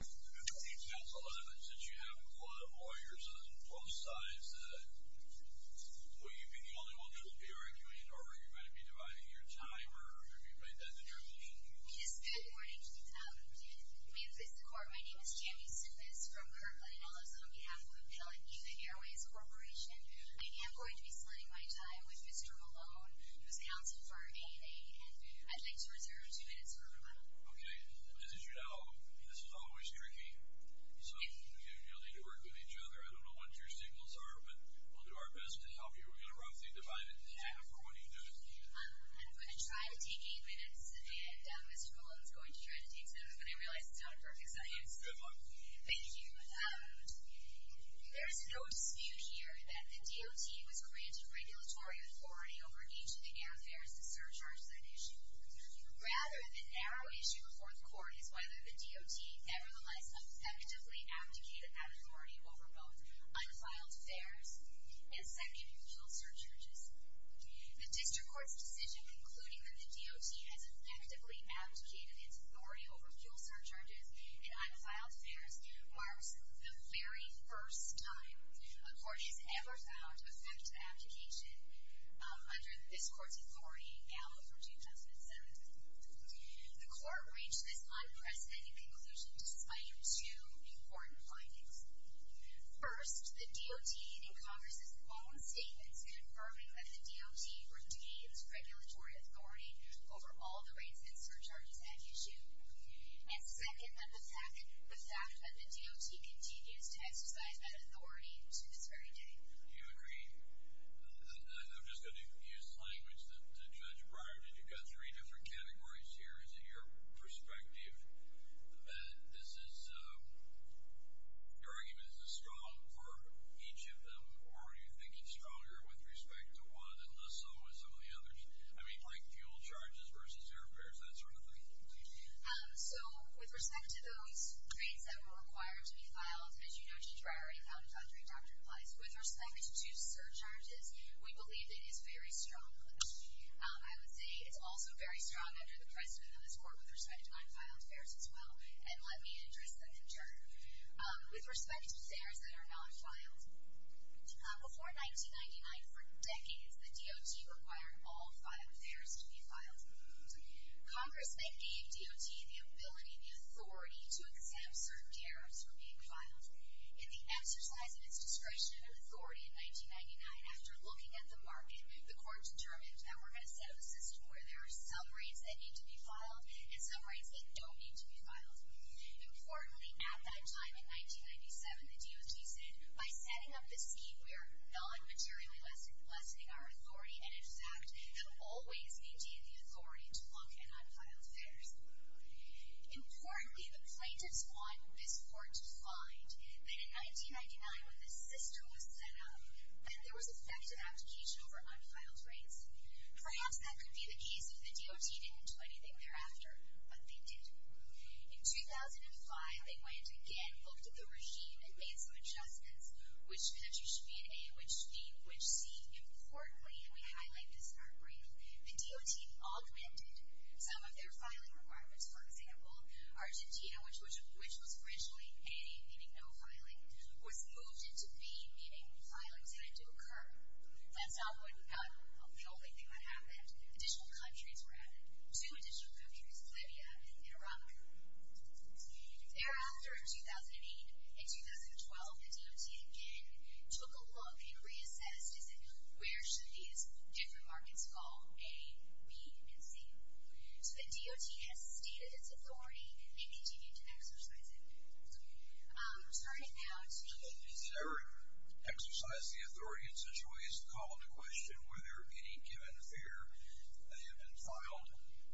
Since you have a lot of lawyers on both sides, will you be the only one to be arguing, or are you going to be dividing your time, or have you made that determination? Yes, good morning. My name is Tammy Sifis from Kirkland, and I was on behalf of Appellate Nippon Airways Corporation. I am going to be splitting my time with Mr. Malone, who is counsel for ANA, and I'd like to reserve two minutes for rebuttal. Okay. As you know, this is always tricky, so you'll need to work with each other. I don't know what your signals are, but we'll do our best to help you. We're going to roughly divide it in half. What do you do? I'm going to try to take eight minutes, and Mr. Malone is going to try to take seven, but I realize it's not a perfect science. Good luck. Thank you. There is no dispute here that the DOT was granted regulatory authority over each of the airfares to surcharge that issue. Rather, the narrow issue before the court is whether the DOT nevertheless effectively abdicated that authority over both unfiled fares and second fuel surcharges. The district court's decision concluding that the DOT has effectively abdicated its authority over fuel surcharges and unfiled fares marks the very first time a court has ever found effective abdication under this court's authority, now for 2017. The court reached this unprecedented conclusion despite two important findings. First, the DOT in Congress's own statements confirming that the DOT retains regulatory authority over all the rates and surcharges at issue. And second, that the fact that the DOT continues to exercise that authority to this very day. Do you agree? I'm just going to use language that Judge Breyer did. You've got three different categories here. Is it your perspective that this is, your argument is strong for each of them, or are you thinking stronger with respect to one and less so with some of the others? I mean, like fuel charges versus airfares, that sort of thing. So, with respect to those rates that were required to be filed, as you know, Judge Breyer, and how Dr. Dr. applies, with respect to surcharges, we believe it is very strong. I would say it's also very strong under the precedent of this court with respect to unfiled fares as well. And let me address them in turn. With respect to fares that are not filed, before 1999, for decades, the DOT required all fares to be filed. Congress then gave DOT the ability, the authority, to exempt certain tariffs from being filed. In the exercise of its discretion and authority in 1999, after looking at the market, the court determined that we're going to set up a system where there are some rates that need to be filed and some rates that don't need to be filed. Importantly, at that time, in 1997, the DOT said, by setting up this scheme, we are non-materially lessening our authority, and in fact, have always, indeed, the authority to block an unfiled fares. Importantly, the plaintiffs want this court to find that in 1999, when this system was set up, that there was effective abdication over unfiled rates. Perhaps that could be the case if the DOT didn't do anything thereafter, but they did. In 2005, they went again, looked at the regime, and made some adjustments, which countries should be in A, which should be in C. Importantly, and we highlight this in our brief, the DOT augmented some of their filing requirements. For example, Argentina, which was originally A, meaning no filing, was moved into B, meaning filing started to occur. That's not the only thing that happened. Additional countries were added. Two additional countries, Libya and Iran. Thereafter, in 2008 and 2012, the DOT again took a look and reassessed, and said, where should these different markets fall, A, B, and C? So the DOT has stated its authority, and they continue to exercise it. Turning now to you. Did it ever exercise the authority in such a way as to call into question whether any given fare that had been filed,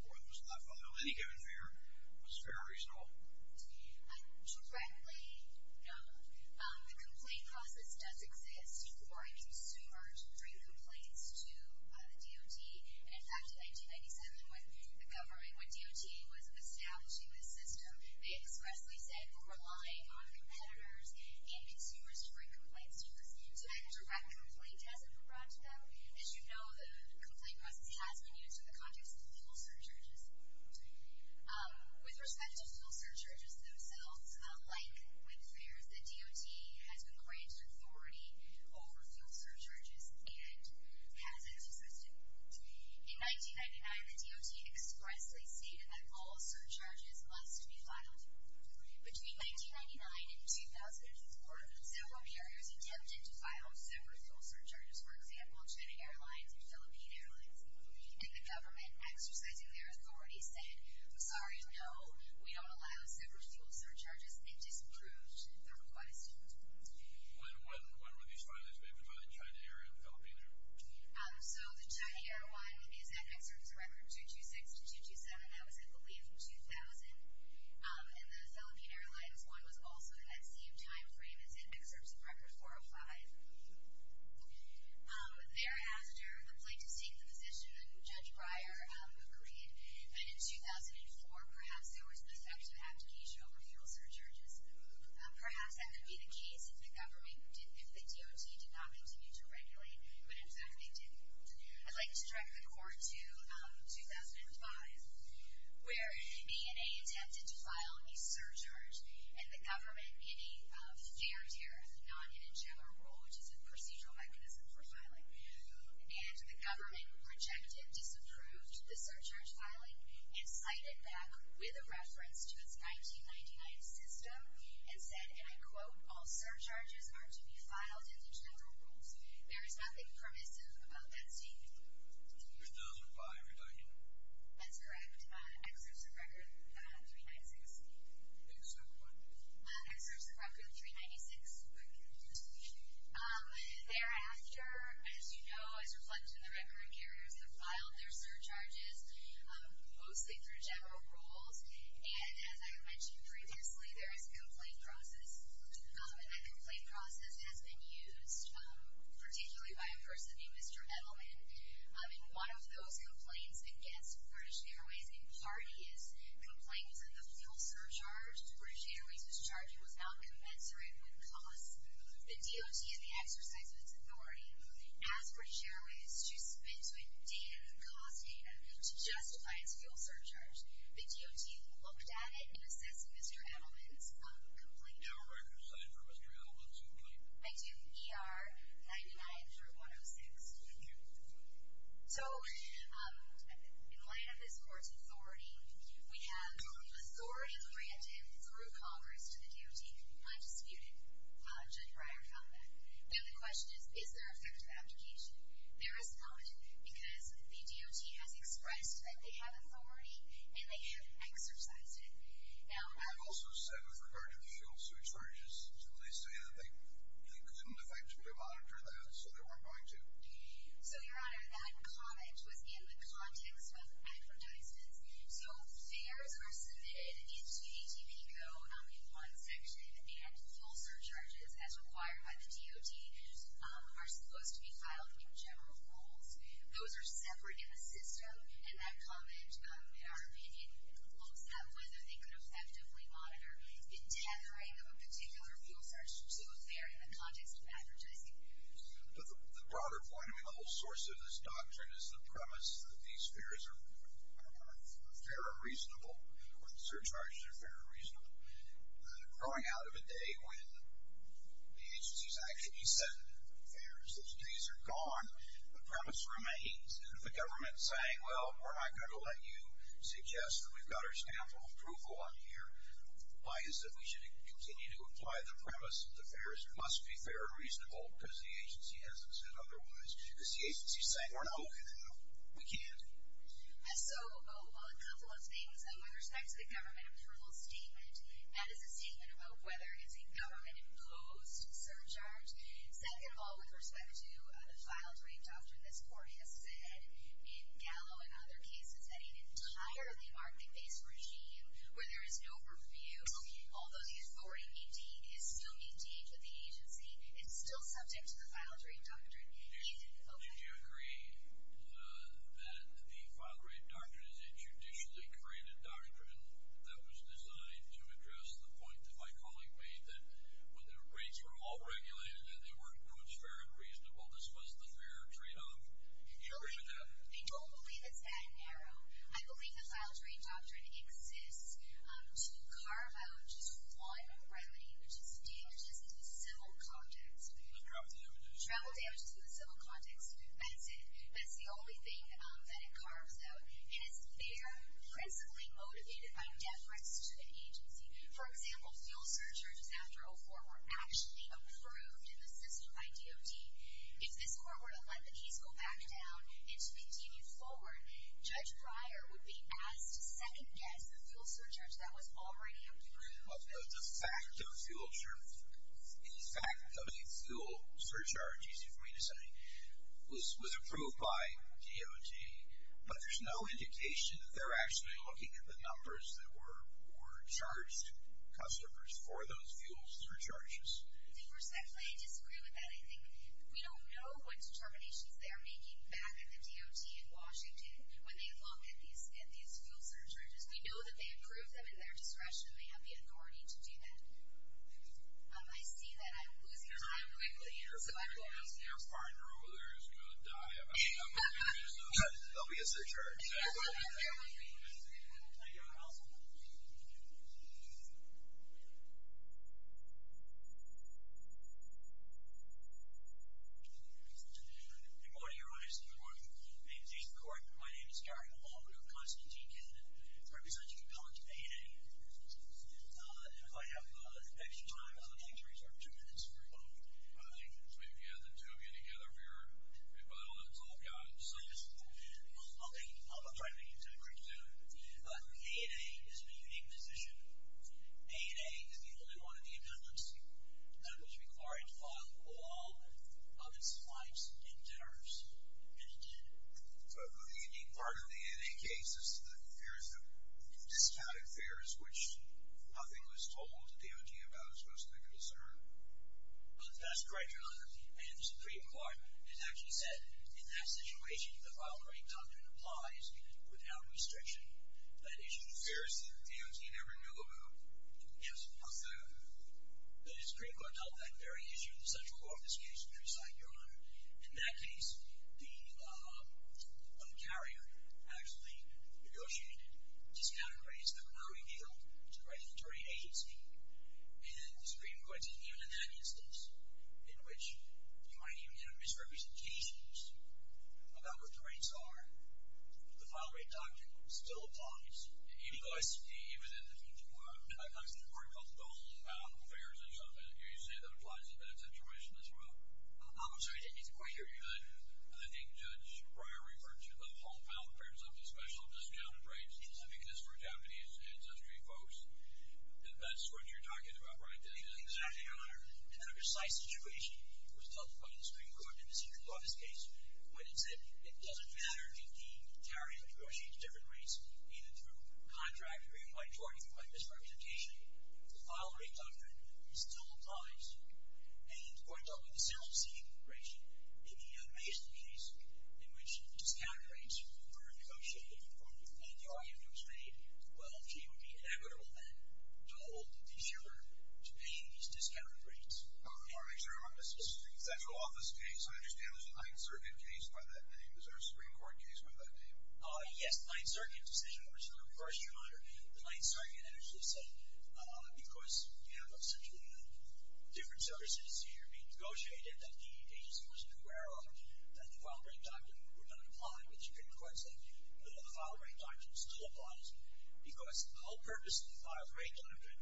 or that was not filed, any given fare, was fair or reasonable? Directly, no. The complaint process does exist for a consumer to bring complaints to the DOT. In fact, in 1997, when the government, when DOT was establishing this system, they expressly said we're relying on competitors and consumers to bring complaints to us. So that direct complaint hasn't been brought to them. As you know, the complaint process has been used in the context of fuel surcharges. With respect to fuel surcharges themselves, like with fares, the DOT has been granted authority over fuel surcharges and has exercised it. In 1999, the DOT expressly stated that all surcharges must be filed. Between 1999 and 2004, several carriers attempted to file separate fuel surcharges. For example, China Airlines and Philippine Airlines. And the government, exercising their authority, said, sorry, no, we don't allow separate fuel surcharges. It disapproved the request. When were these files made, between China Air and Philippine Air? So the China Air one is in Excerpts of Record 226 to 227. That was, I believe, in 2000. And the Philippine Airlines one was also in that same time frame as Excerpts of Record 405. Thereafter, the plaintiffs take the position, and Judge Breyer agreed, that in 2004, perhaps there was the effect of abdication over fuel surcharges. Perhaps that could be the case if the DOT did not continue to regulate when, in fact, they did. I'd like to direct the court to 2005, where E&A attempted to file a surcharge, and the government, in a fair tariff, not in a general rule, which is a procedural mechanism for filing. And the government rejected, disapproved the surcharge filing, and cited back, with a reference to its 1999 system, and said, and I quote, all surcharges are to be filed in the general rules. There is nothing permissive about that statement. It does apply, everybody. That's correct. Excerpts of Record 396. Excerpt what? Excerpts of Record 396. Thereafter, as you know, as reflected in the record, carriers have filed their surcharges, mostly through general rules. And, as I mentioned previously, there is a complaint process. And that complaint process has been used, particularly by a person named Mr. Edelman. And one of those complaints against British Airways, in part, is complaints that the fuel surcharge British Airways was charging was not commensurate with costs. The DOT, in the exercise of its authority, asked British Airways to submit to it data, cost data, to justify its fuel surcharge. The DOT looked at it and assessed Mr. Edelman's complaint. Do you have a record of sign for Mr. Edelman's complaint? I do, ER 99 through 106. Thank you. So, in light of this Court's authority, we have authority granted through Congress to the DOT, undisputed. Judge Breyer found that. Now, the question is, is there effective application? There is not, because the DOT has expressed that they have authority, and they have exercised it. Now, I've also said, with regard to the fuel surcharges, they say that they couldn't effectively monitor that, so they weren't going to. So, Your Honor, that comment was in the context of advertisements. So, fares are submitted into ATP Go in one section, and fuel surcharges, as required by the DOT, are supposed to be filed in general rules. Those are separate in the system, and that comment, in our opinion, looks at whether they could effectively monitor the tethering of a particular fuel surcharge to a fare in the context of advertising. But the broader point, I mean, the whole source of this doctrine is the premise that these fares are fair and reasonable, or the surcharges are fair and reasonable. Growing out of a day when the agencies actually submitted the fares, those days are gone. The premise remains. And if the government is saying, well, we're not going to let you suggest that we've got our stamp of approval on here, why is it that we should continue to apply the premise that the fares must be fair and reasonable, because the agency hasn't said otherwise? Because the agency is saying, well, no, we can't. So, a couple of things. With respect to the government approval statement, that is a statement about whether it's a government-imposed surcharge. Second of all, with respect to the filed rate doctrine, this court has said in Gallo and other cases that an entirely market-based regime where there is no purview, although the authority is still indeed with the agency, is still subject to the filed rate doctrine. Do you agree that the filed rate doctrine is a judicially created doctrine that was designed to address the point that my colleague made, that when the rates were all regulated and they were, in quotes, fair and reasonable, this was the fair tradeoff? Do you agree with that? I don't believe it's that narrow. I believe the filed rate doctrine exists to carve out just one remedy, which is damages in the civil context. Travel damages. Travel damages in the civil context. That's it. That's the only thing that it carves out, and it's there principally motivated by debt threats to an agency. For example, fuel surcharges after 2004 were actually approved in the system by DOD. If this court were to let the case go back down and to continue forward, Judge Breyer would be asked to second-guess the fuel surcharge that was already approved. The fact of a fuel surcharge, easy for me to say, was approved by DOD, but there's no indication that they're actually looking at the numbers that were charged customers for those fuel surcharges. I think, respectfully, I disagree with that. I think we don't know what determinations they're making back at the DOT in Washington when they look at these fuel surcharges. We know that they approved them in their discretion. They have the authority to do that. I see that I'm losing time quickly, and so I apologize. Your partner over there is going to die. They'll be a surcharge. Thank you, counsel. Good morning, Your Honor. Good morning. In the name of the court, my name is Gary Hall. I'm with Constantine Kittenden, representing Appellant 8A. If I have extra time, I'd like to reserve two minutes for rebuttal. I think we've gathered two of you together for your rebuttal, and it's all gone. I'll try to make it to a great tune. But 8A is in a unique position. 8A is the only one of the appendix that was required to file a law on its flights and dinners, and it did. But the unique part of the 8A case is the fears of discounted fares, which nothing was told to DOT about as most of the concern. That's correct, Your Honor. And the Supreme Court has actually said, in that situation, the filing rate doctrine applies without restriction. That issue of fares, DOT never knew about. Yes, but the Supreme Court dealt with that very issue in the central office case, which was signed, Your Honor. In that case, the carrier actually negotiated discounted rates that were revealed to the regulatory agency. And the Supreme Court said, even in that instance, in which you might even get a misrepresentation about what the rates are, the filing rate doctrine still applies. Even in the future, when it comes to the court called the homebound fares and stuff, do you say that applies to that situation as well? I'm sorry, I didn't get the question. I think Judge Breyer referred to the homebound fares as a special discounted rate, because for Japanese ancestry folks, that's what you're talking about, right? Exactly, Your Honor. And in a precise situation, it was dealt with by the Supreme Court in the central office case, when it said, it doesn't matter if the carrier negotiates different rates, either through contract or you might get a misrepresentation, the filing rate doctrine still applies. And going back to the central seating integration, in the Mason case, in which discounted rates were negotiated and the argument was made, well, it would be inevitable then to hold the consumer to paying these discounted rates. I want to make sure I'm on the central office case. I understand there's a Ninth Circuit case by that name. Is there a Supreme Court case by that name? The Ninth Circuit actually said, because, you know, essentially different services here are being negotiated, that the agency was aware of that the filing rate doctrine would not apply, which the Supreme Court said, but the filing rate doctrine still applies, because the whole purpose of the filing rate doctrine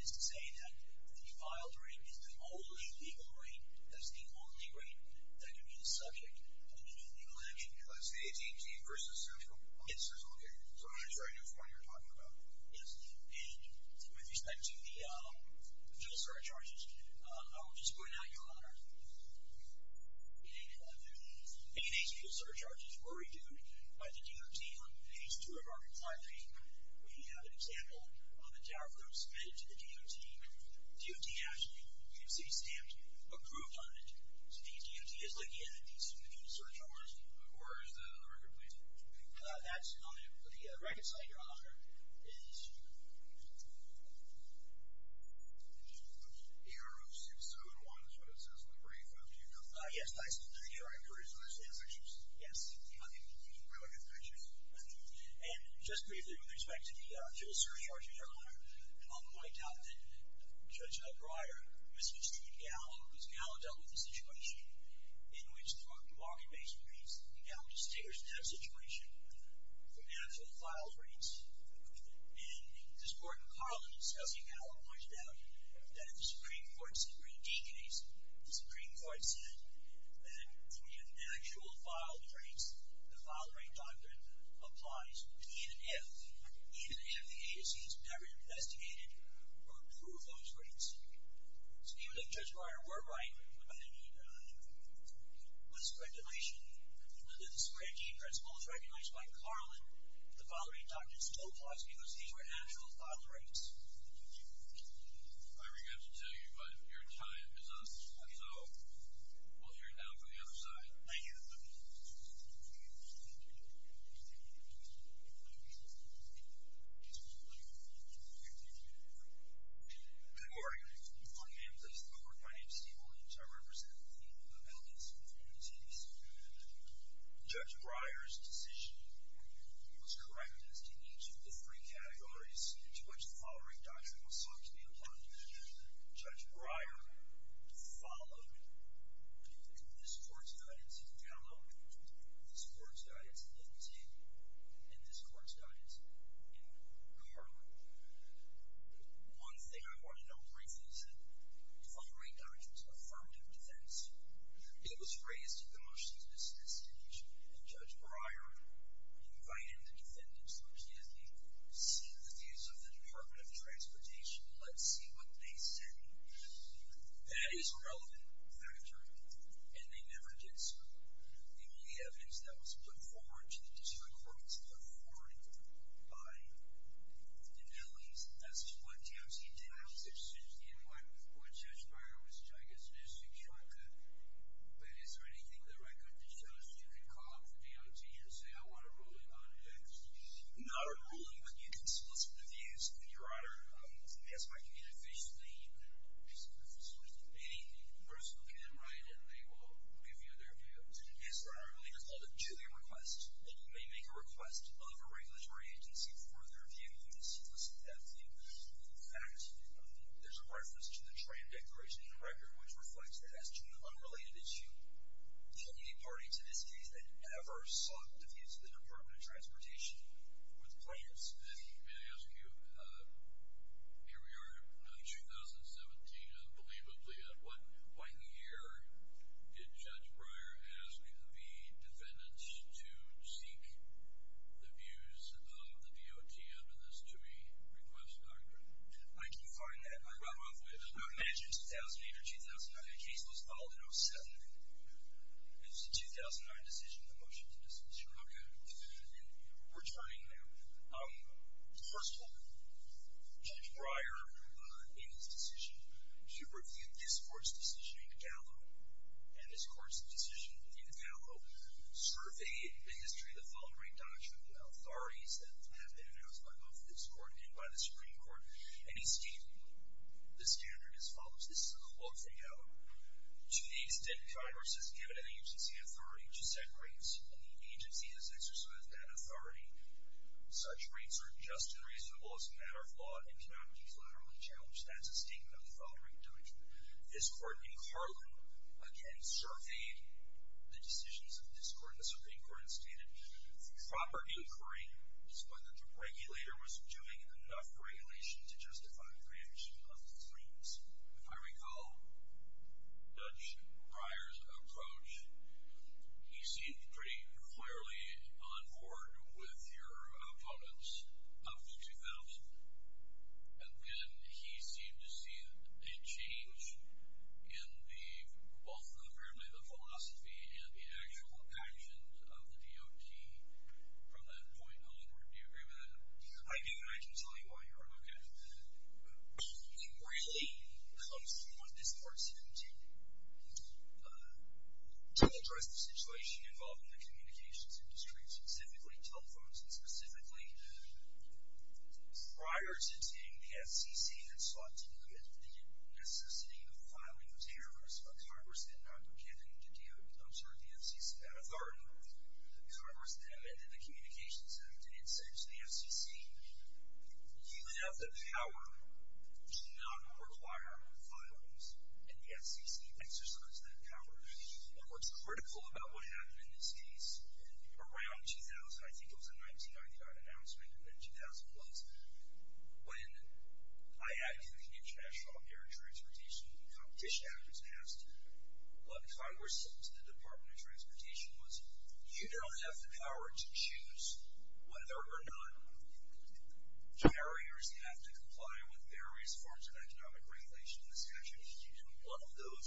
is to say that the filed rate is the only legal rate, that's the only rate that can be the subject of any legal action. Because the AT&T versus central office is located. So I'm not sure I know which one you're talking about. Yes, and with respect to the bill surcharges, I will just point out, Your Honor, that the AT&T bill surcharges were reduced by the DOT on page 2 of our compiling. We have an example of a tariff that was submitted to the DOT. The DOT actually, you can see stamped, approved on it. So the AT&T is looking at the subpoenaed surcharges. Where is that on the record, please? That's on the record site, Your Honor. It's AR-671, is what it says on the brief. Do you know? Yes, that's the AR-671. Is it in the pictures? Yes. I think it's in the pictures. And just briefly, with respect to the bill surcharges, Your Honor, I'll point out that Judge Breyer misconstrued Gallo, because Gallo dealt with a situation in which the market-based rates, Gallo distinguished that situation from actual file rates. And this Court in Carlin says, Gallo pointed out, that in the Supreme Court's D case, the Supreme Court said that in actual file rates, the file rate doctrine applies even if the agency has never investigated or approved those rates. So even if Judge Breyer were right, and with respect to the Supreme Court's principles recognized by Carlin, the file rate doctrine still applies because these were actual file rates. I regret to tell you, but your time is up. So we'll hear it now from the other side. Thank you. Thank you. Good morning. My name is Stephen Williams. I represent the field of evidence in this case. Judge Breyer's decision was correct as to each of the three categories in which the file rate doctrine was thought to be applied. Judge Breyer followed this Court's guidance in Gallo, this Court's guidance in D, and this Court's guidance in Carlin. One thing I want to know briefly is that the file rate doctrine is an affirmative defense. It was raised in the motions at this stage, and Judge Breyer invited the defendants, which is the seat of the views of the Department of Transportation to let's see what they said. That is a relevant factor, and they never did so. The only evidence that was put forward to the district court was put forward by Dinelli's. That's what DOC did. I was interested in what Judge Breyer was suggesting, but is there anything in the record that shows you can call up the DOT and say, I want a ruling on X? Not a ruling, but you can solicit the views of your honor. Yes, my committee officially solicits the views of any person who can write, and they will give you their views. Yes, your honor, I believe it's called a Julian request. They may make a request of a regulatory agency for their view, and solicit that view. In fact, there's a reference to the tram declaration in the record, which reflects that as to an unrelated issue, with plans. And may I ask you, here we are in 2017, unbelievably at what point in the year did Judge Breyer ask the defendants to seek the views of the DOT on this to be requested? I can find that. I would imagine 2008 or 2009. The case was filed in 07. It was a 2009 decision. The motion is dismissed. Okay. We're turning now. First of all, Judge Breyer, in his decision, he reviewed this court's decision in Gallo, and this court's decision in Gallo, surveyed the history of the following doctrine, the authorities that have been enhanced by both this court and by the Supreme Court, and he stated the standard as follows. This is a quote from Gallo. To the extent Congress has given an agency authority to set rates, and the agency has exercised that authority, such rates are just and reasonable as a matter of law and cannot be collaterally challenged. That's a statement of the following doctrine. This court in Carlin, again, surveyed the decisions of this court and the Supreme Court and stated the proper inquiry was whether the regulator was doing enough regulation to justify a branch of the claims. If I recall, Judge Breyer's approach, he seemed pretty clearly on board with your opponents up to 2000, and then he seemed to see a change in the, both apparently the philosophy and the actual actions of the DOT from that point onward. Do you agree with that? I do, and I can tell you why here. Okay. It really comes from what this court's intended to do, to address the situation involved in the communications industry, specifically telephones and specifically prior to taking the FCC that sought to limit the necessity of filing of tariffs, a Congress that had not been given the duty of observing the FCC's authority, a Congress that amended the Communications Act and in the FCC, you have the power to not require the filings and the FCC exercised that power. And what's critical about what happened in this case around 2000, I think it was a 1995 announcement, and then 2000 was when I added the International Air and Transportation Competition Act was passed, what Congress said to the Department of Transportation was, you don't have the power to choose whether or not carriers have to comply with various forms of economic regulation in this country. And one of those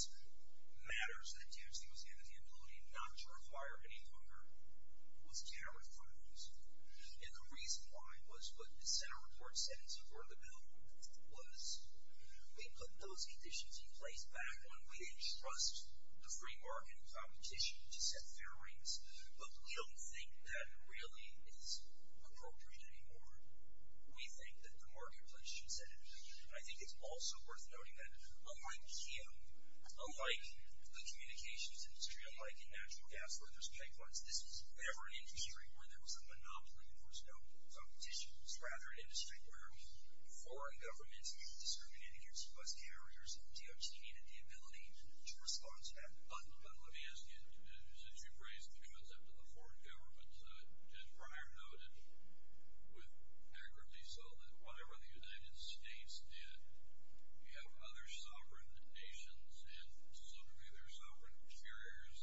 matters that the FCC was given the ability not to require any longer was tariff filings. And the reason why was what the Senate report said in support of the bill was we put those conditions in place back when we didn't trust the free market competition to set fair rates. But we don't think that really is appropriate anymore. We think that the marketplace should set it free. And I think it's also worth noting that unlike him, unlike the communications industry, unlike in natural gas where there's pipelines, this was never an industry where there was a monopoly and there was no competition. It was rather an industry where foreign governments discriminated against U.S. carriers and de-educated the ability to respond to that monopoly. Let me ask you, since you've raised the concept of the foreign governments, as Brian noted with accuracy, so that whatever the United States did, you have other sovereign nations and some of their sovereign carriers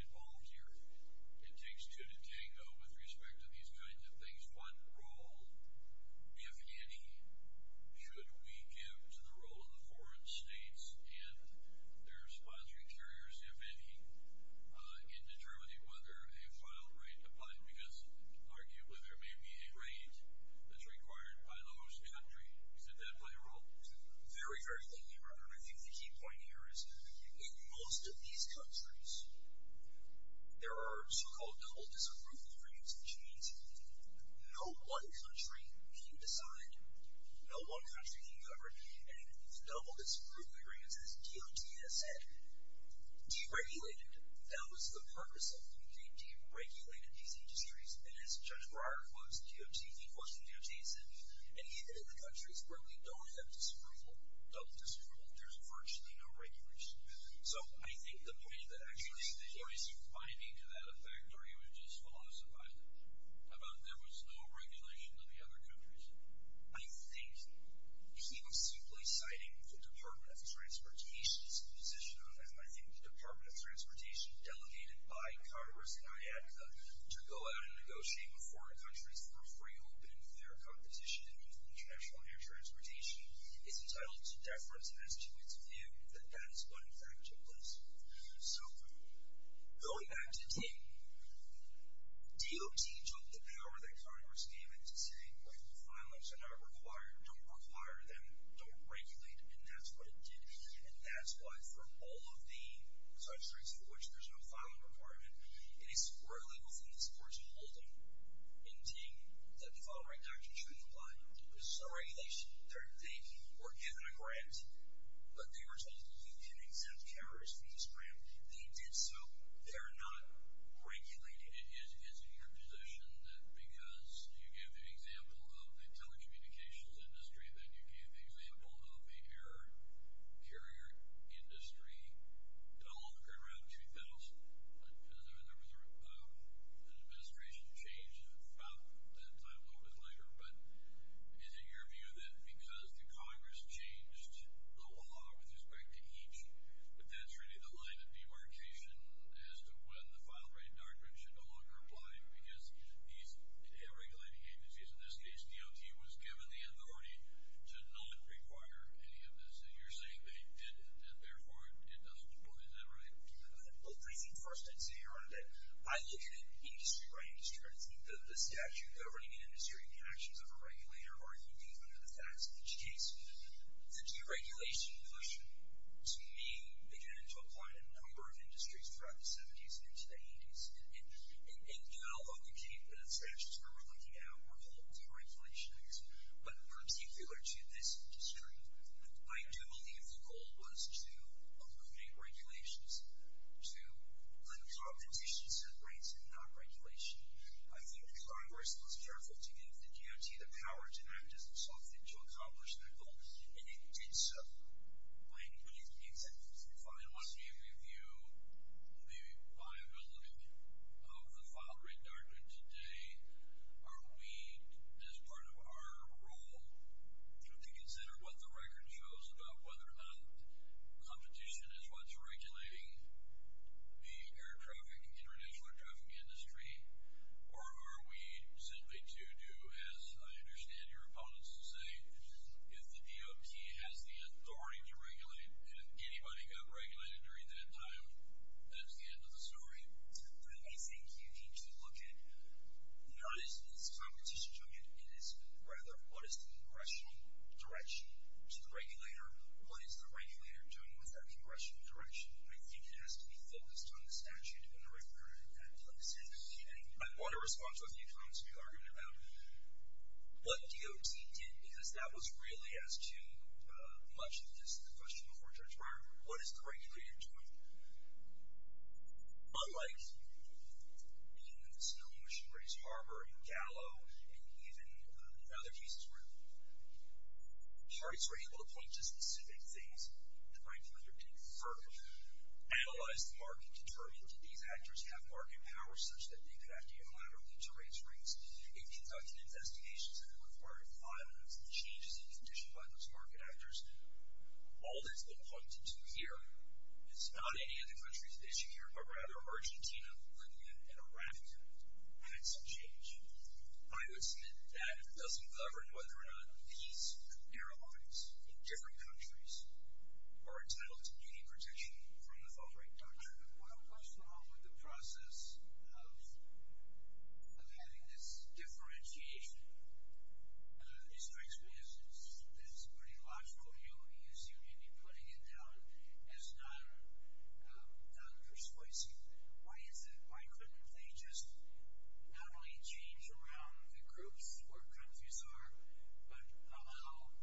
involved here. It takes two to tango with respect to these kinds of things. Is one role, if any, should we give to the role of the foreign states and their sponsoring carriers, if any, in determining whether a final rate applies? Because arguably there may be a rate that's required by those countries. Does that play a role? Very, very clearly, Robert. I think the key point here is in most of these countries there are so-called double disapproval agreements, which means no one country can decide. No one country can govern. And double disapproval agreements, as DOT has said, deregulated. That was the purpose of them. They deregulated these industries. And as Judge Breyer quotes DOT, he quotes from DOT, he says, and even in the countries where we don't have disapproval, double disapproval, there's virtually no regulation. So I think the point of the experts here is finding to that effect, or he was just philosophizing, about there was no regulation in the other countries. I think he was simply citing the Department of Transportation's position on that. And I think the Department of Transportation, delegated by Congress and IATCA, to go out and negotiate with foreign countries for free, open, and fair competition in international air transportation is entitled to deference and has to its view that that is not an effective policy. So going back to Ting, DOT took the power that Congress gave it to say, wait, the filings are not required. Don't require them. Don't regulate them. And that's what it did. And that's why for all of the such things for which there's no filing requirement, it is squarely within this Court's holding in Ting that the following actions really apply. There's no regulation. They were given a grant, but they were told you can exempt carriers from this grant. They did so. They're not regulating it. Is it your position that because you gave the example of the telecommunications industry, then you gave the example of the air carrier industry? It all occurred around 2000. There was an administration change about that time a little bit later. But is it your view that because the Congress changed the law with respect to each, but that's really the line of demarcation as to when the final right doctrine should no longer apply? Because these air regulating agencies, in this case, DOT was given the authority to not require any of this. And you're saying they did, and therefore it doesn't apply. Is that right? Well, I think first I'd say earlier that I look at it industry by industry. The statute governing the industry and the actions of a regulator are unique under the facts of each case. The deregulation motion, to me, began to apply to a number of industries throughout the 70s and into the 80s. And you know, although the statutes we're looking at were called deregulation acts, but particular to this industry, I do believe the goal was to eliminate regulations, to let competition set rates and not regulation. I think the Congress was careful to give the DOT the power to act as itself and to accomplish that goal. And it did so. I mean, it's fine once you review the viability of the final right doctrine today, are we as part of our role to consider what the record shows about whether or not competition is what's regulating the air traffic international air traffic industry, or are we simply to do as I understand your opponents to say, if the DOT has the authority to regulate and anybody got regulated during that time, that's the end of the story. I think you need to look at, not as competition to it, it is rather, what is the congressional direction to the regulator? What is the regulator doing with that congressional direction? I think it has to be focused on the statute and the regularity that places it. And I want to respond to a few comments we argued about what DOT did, because that was really as to much of this, the question before Judge Breyer, what is the regulator doing? Unlike in the snow in Michigan, there is harbor in Gallo, and even in other pieces where parties were able to point to specific things that might further analyze the market to turn into these actors have market power, such that they could have to unilaterally to raise rates in conducting investigations that are required of violence and changes in condition by those market actors. All that's been pointed to here, it's not any other country's issue here, but rather Argentina, Libya and Iraq had some change. I would submit that doesn't govern whether or not these airlines in different countries are entitled to any protection from the fall rate doctrine. Well, what's wrong with the process of, of having this differentiation? It strikes me as, as pretty logical. You assume you'd be putting it down as not persuasive. Why is it, why couldn't they just not only change around the groups where countries are, but allow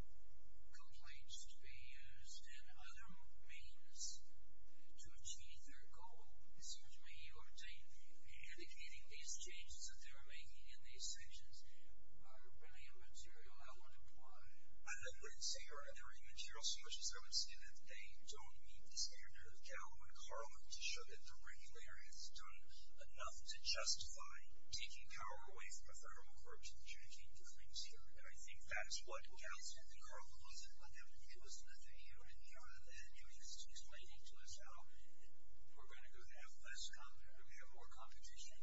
complaints to be used and other means to achieve their goal? Excuse me, you were indicating these changes that they were making in these sections are really immaterial. I would imply. I wouldn't say they're immaterial so much as I would say that they don't meet the standard of Gallup and Carlin to show that the regulator has done enough to justify taking power away from the federal courts and changing the claims here. And I think that is what Gallup said that Carlin wasn't, but that was, it was in the 30 year era that it was just explaining to us how we're going to go down less, how we're going to have more competition.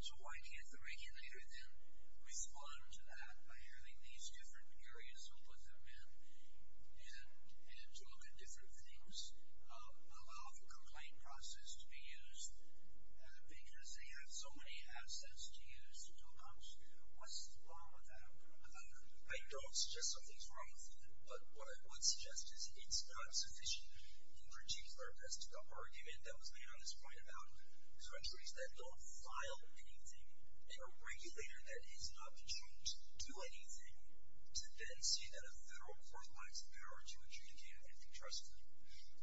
So why can't the regulator then respond to that by having these different areas? We'll put them in and, and to look at different things, allow the complaint process to be used because they have so many assets to use. What's wrong with that? I don't suggest something's wrong with that, but what I would suggest is it's not sufficient in particular as to the argument that was made on this point about these countries that don't file anything. And a regulator that is not controlled to do anything, to then see that a federal court lacks the power to adjudicate an empty trust claim.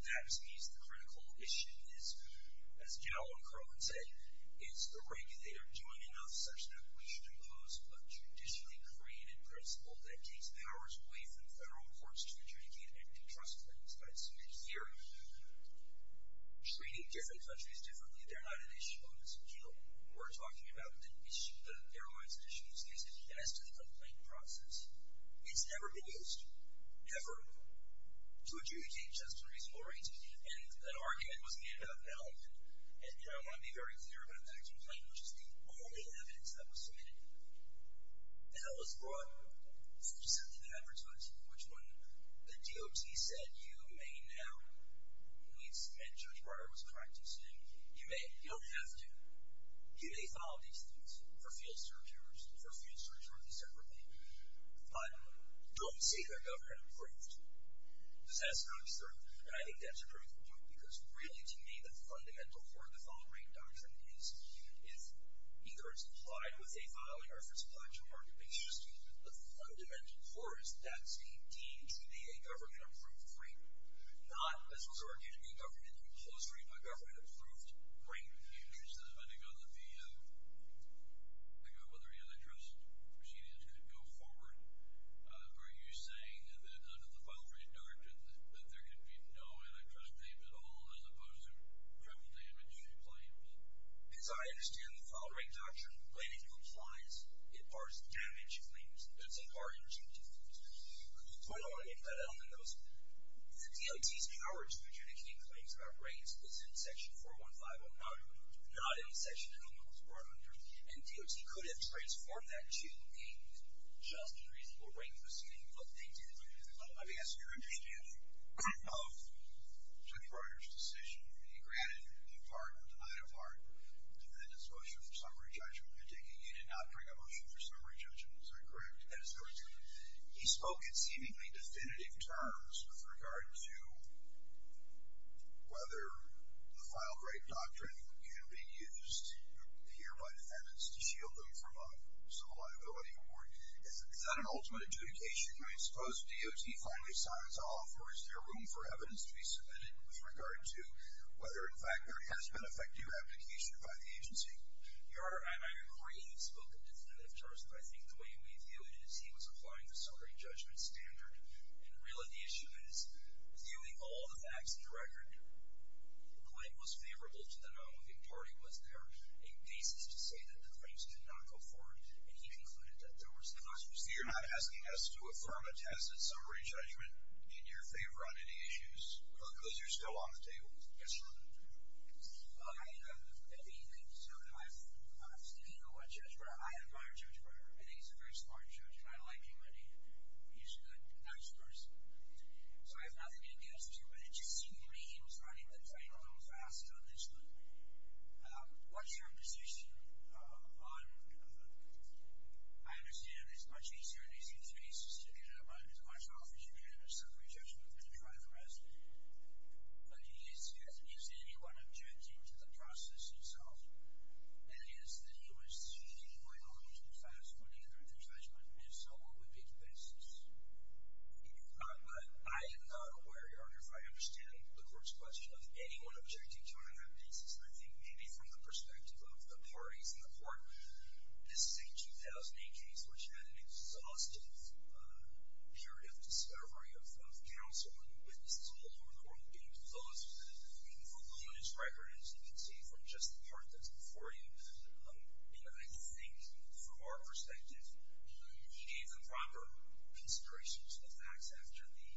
That means the critical issue is as Gallup and Carlin say, is the regulator doing enough such that we should impose a traditionally created principle that takes powers away from federal courts to adjudicate empty trust claims. I assume that here, treating different countries differently, they're not an issue on this appeal. We're talking about the airlines issues. And as to the complaint process, it's never been used ever to adjudicate just unreasonable rates. And an argument was made about that. And, you know, I want to be very clear about that complaint, which is the only evidence that was submitted. The hell has brought such a significant effort to it, which when the DOT said, you may now, at least Judge Breyer was correct in saying you may, you don't have to. You may file these things for field searchers, for field searchers separately, but don't say they're government approved. This has to be certain. And I think that's a critical point because really to me, the fundamental core of the following doctrine is, if either it's applied with a filing or if it's applied to argument, it's just the fundamental core is that's indeed, to me, a government approved claim, not as was argued to be a government, a closed rate by government approved. Right. Depending on the, depending on whether the antitrust proceedings could go forward. Are you saying that under the file rate doctrine, that there can be no antitrust claims at all, as opposed to triple damage claims? As I understand the file rate doctrine, when it applies, it bars damage claims. It doesn't bar injunctions. So I don't want to get cut out on those. The DOT's power to adjudicate claims about rates is in section 415 on how it was approved, not in section 114 on how it was approved. And DOT could have transformed that to a just and reasonable rate proceeding, but they didn't. Let me ask your opinion of Judge Breyer's decision. He granted a pardon, denied a pardon, defended his motion for summary judgment, indicating he did not bring a motion for summary judgment. Is that correct? That is correct, Your Honor. He spoke in seemingly definitive terms with regard to whether the file rate doctrine can be used here by defendants to shield them from a civil liability award. Is that an ultimate adjudication? I mean, suppose DOT finally signs off or is there room for evidence to be submitted with regard to whether, in fact, there has been effective application by the agency? Your Honor, I agree you've spoken definitive terms, but I think the way we view it is he was applying the summary judgment standard. And really, the issue is viewing all the facts of the record, the claim was favorable to the non-moving party. Was there a basis to say that the claims did not go forward? And he concluded that there was not. So you're not asking us to affirm a test in summary judgment in your favor on any issues? Because you're still on the table. Yes, Your Honor. I mean, so I'm sticking to what Judge Breyer, I admire Judge Breyer. I think he's a very smart judge. And I like him. And he, he's a good, nice person. So I have nothing against him, but it just seems to me he was running the train a little fast on this one. What's your position on, I understand it's much easier in these cases to get a bunch of offers and get a summary judgment and try the rest. But is, is anyone objecting to the process itself? And if so, what would be the basis? I am not aware, Your Honor, if I understand the court's question of anyone objecting to it on that basis. I think maybe from the perspective of the parties in the court, this is a 2008 case, which had an exhaustive period of discovery of, of counsel and witnesses all over the court. And those, even from the witness record, as you can see from just the part that's before you, I think from our perspective, he gave the proper considerations to the facts after the,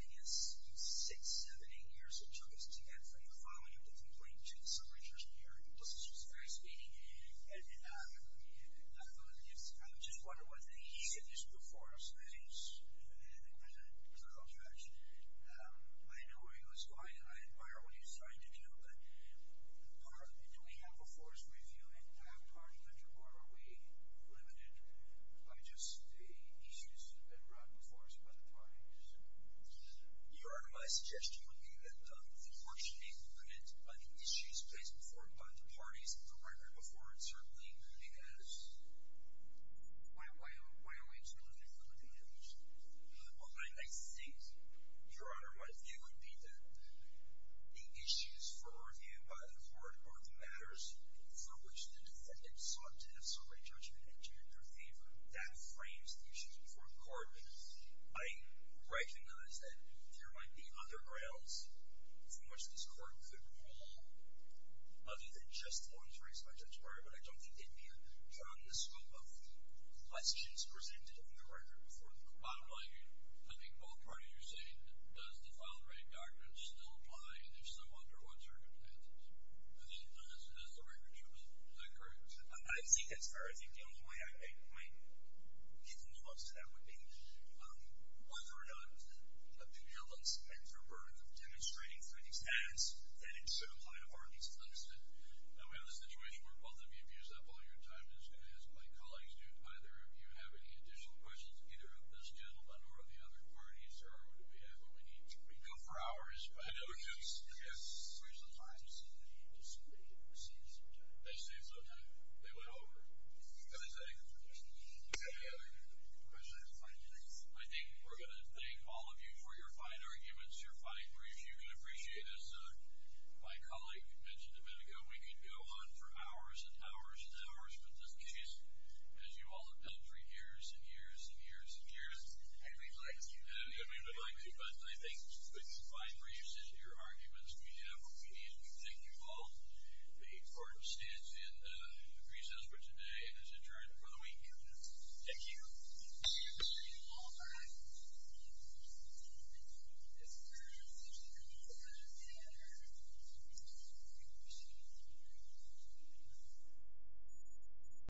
I guess, six, seven, eight years it took us to get from the filing of the complaint to the summary judgment hearing. This was very speedy. And, and I, and I thought, yes, I'm just wondering whether he, I know where he was going. I admire what he was trying to do, but do we have a force review in our country? Or are we limited by just the issues that have been brought before us by the parties? Your Honor, my suggestion would be that the court should be limited by the issues placed before it by the parties, the record before it, certainly because why, why are we limited by the issues? Well, I think, Your Honor, my view would be that the issues for review by the court are the matters for which the defendant sought to have summary judgment and do it in your favor. That frames the issues before the court. I recognize that there might be other grounds for which this court could rule other than just the ones raised by Judge Breyer, but I don't think they'd be drawn to the scope of questions presented in the record before the court. Bottom line, I think both parties are saying, does defiled rape doctrine still apply? And if so, under what circumstances? I mean, as the record shows, is that correct? I think that's fair. I think the only way I may, might get in the books to that would be whether or not the, the prevalence and rebirth of demonstrating through these ads, that it should apply to parties is understood. Now, we have a situation where both of you have used up all your time. I'm just going to ask my colleagues, do either of you have any additional questions, either of this gentleman or of the other parties? Or do we have what we need? We can go for hours, but I don't think it's a waste of time. They saved some time. They went over. I think we're going to thank all of you for your fine arguments, your fine briefs. You can appreciate this. My colleague mentioned a minute ago, we could go on for hours and hours and hours, but in this case, as you all have done for years and years and years and years. And we'd like to. And we would like to, but I think with the fine briefs and your arguments, we have what we need. We thank you all. The court stands in the recess for today as adjourned for the week. Thank you. Thank you.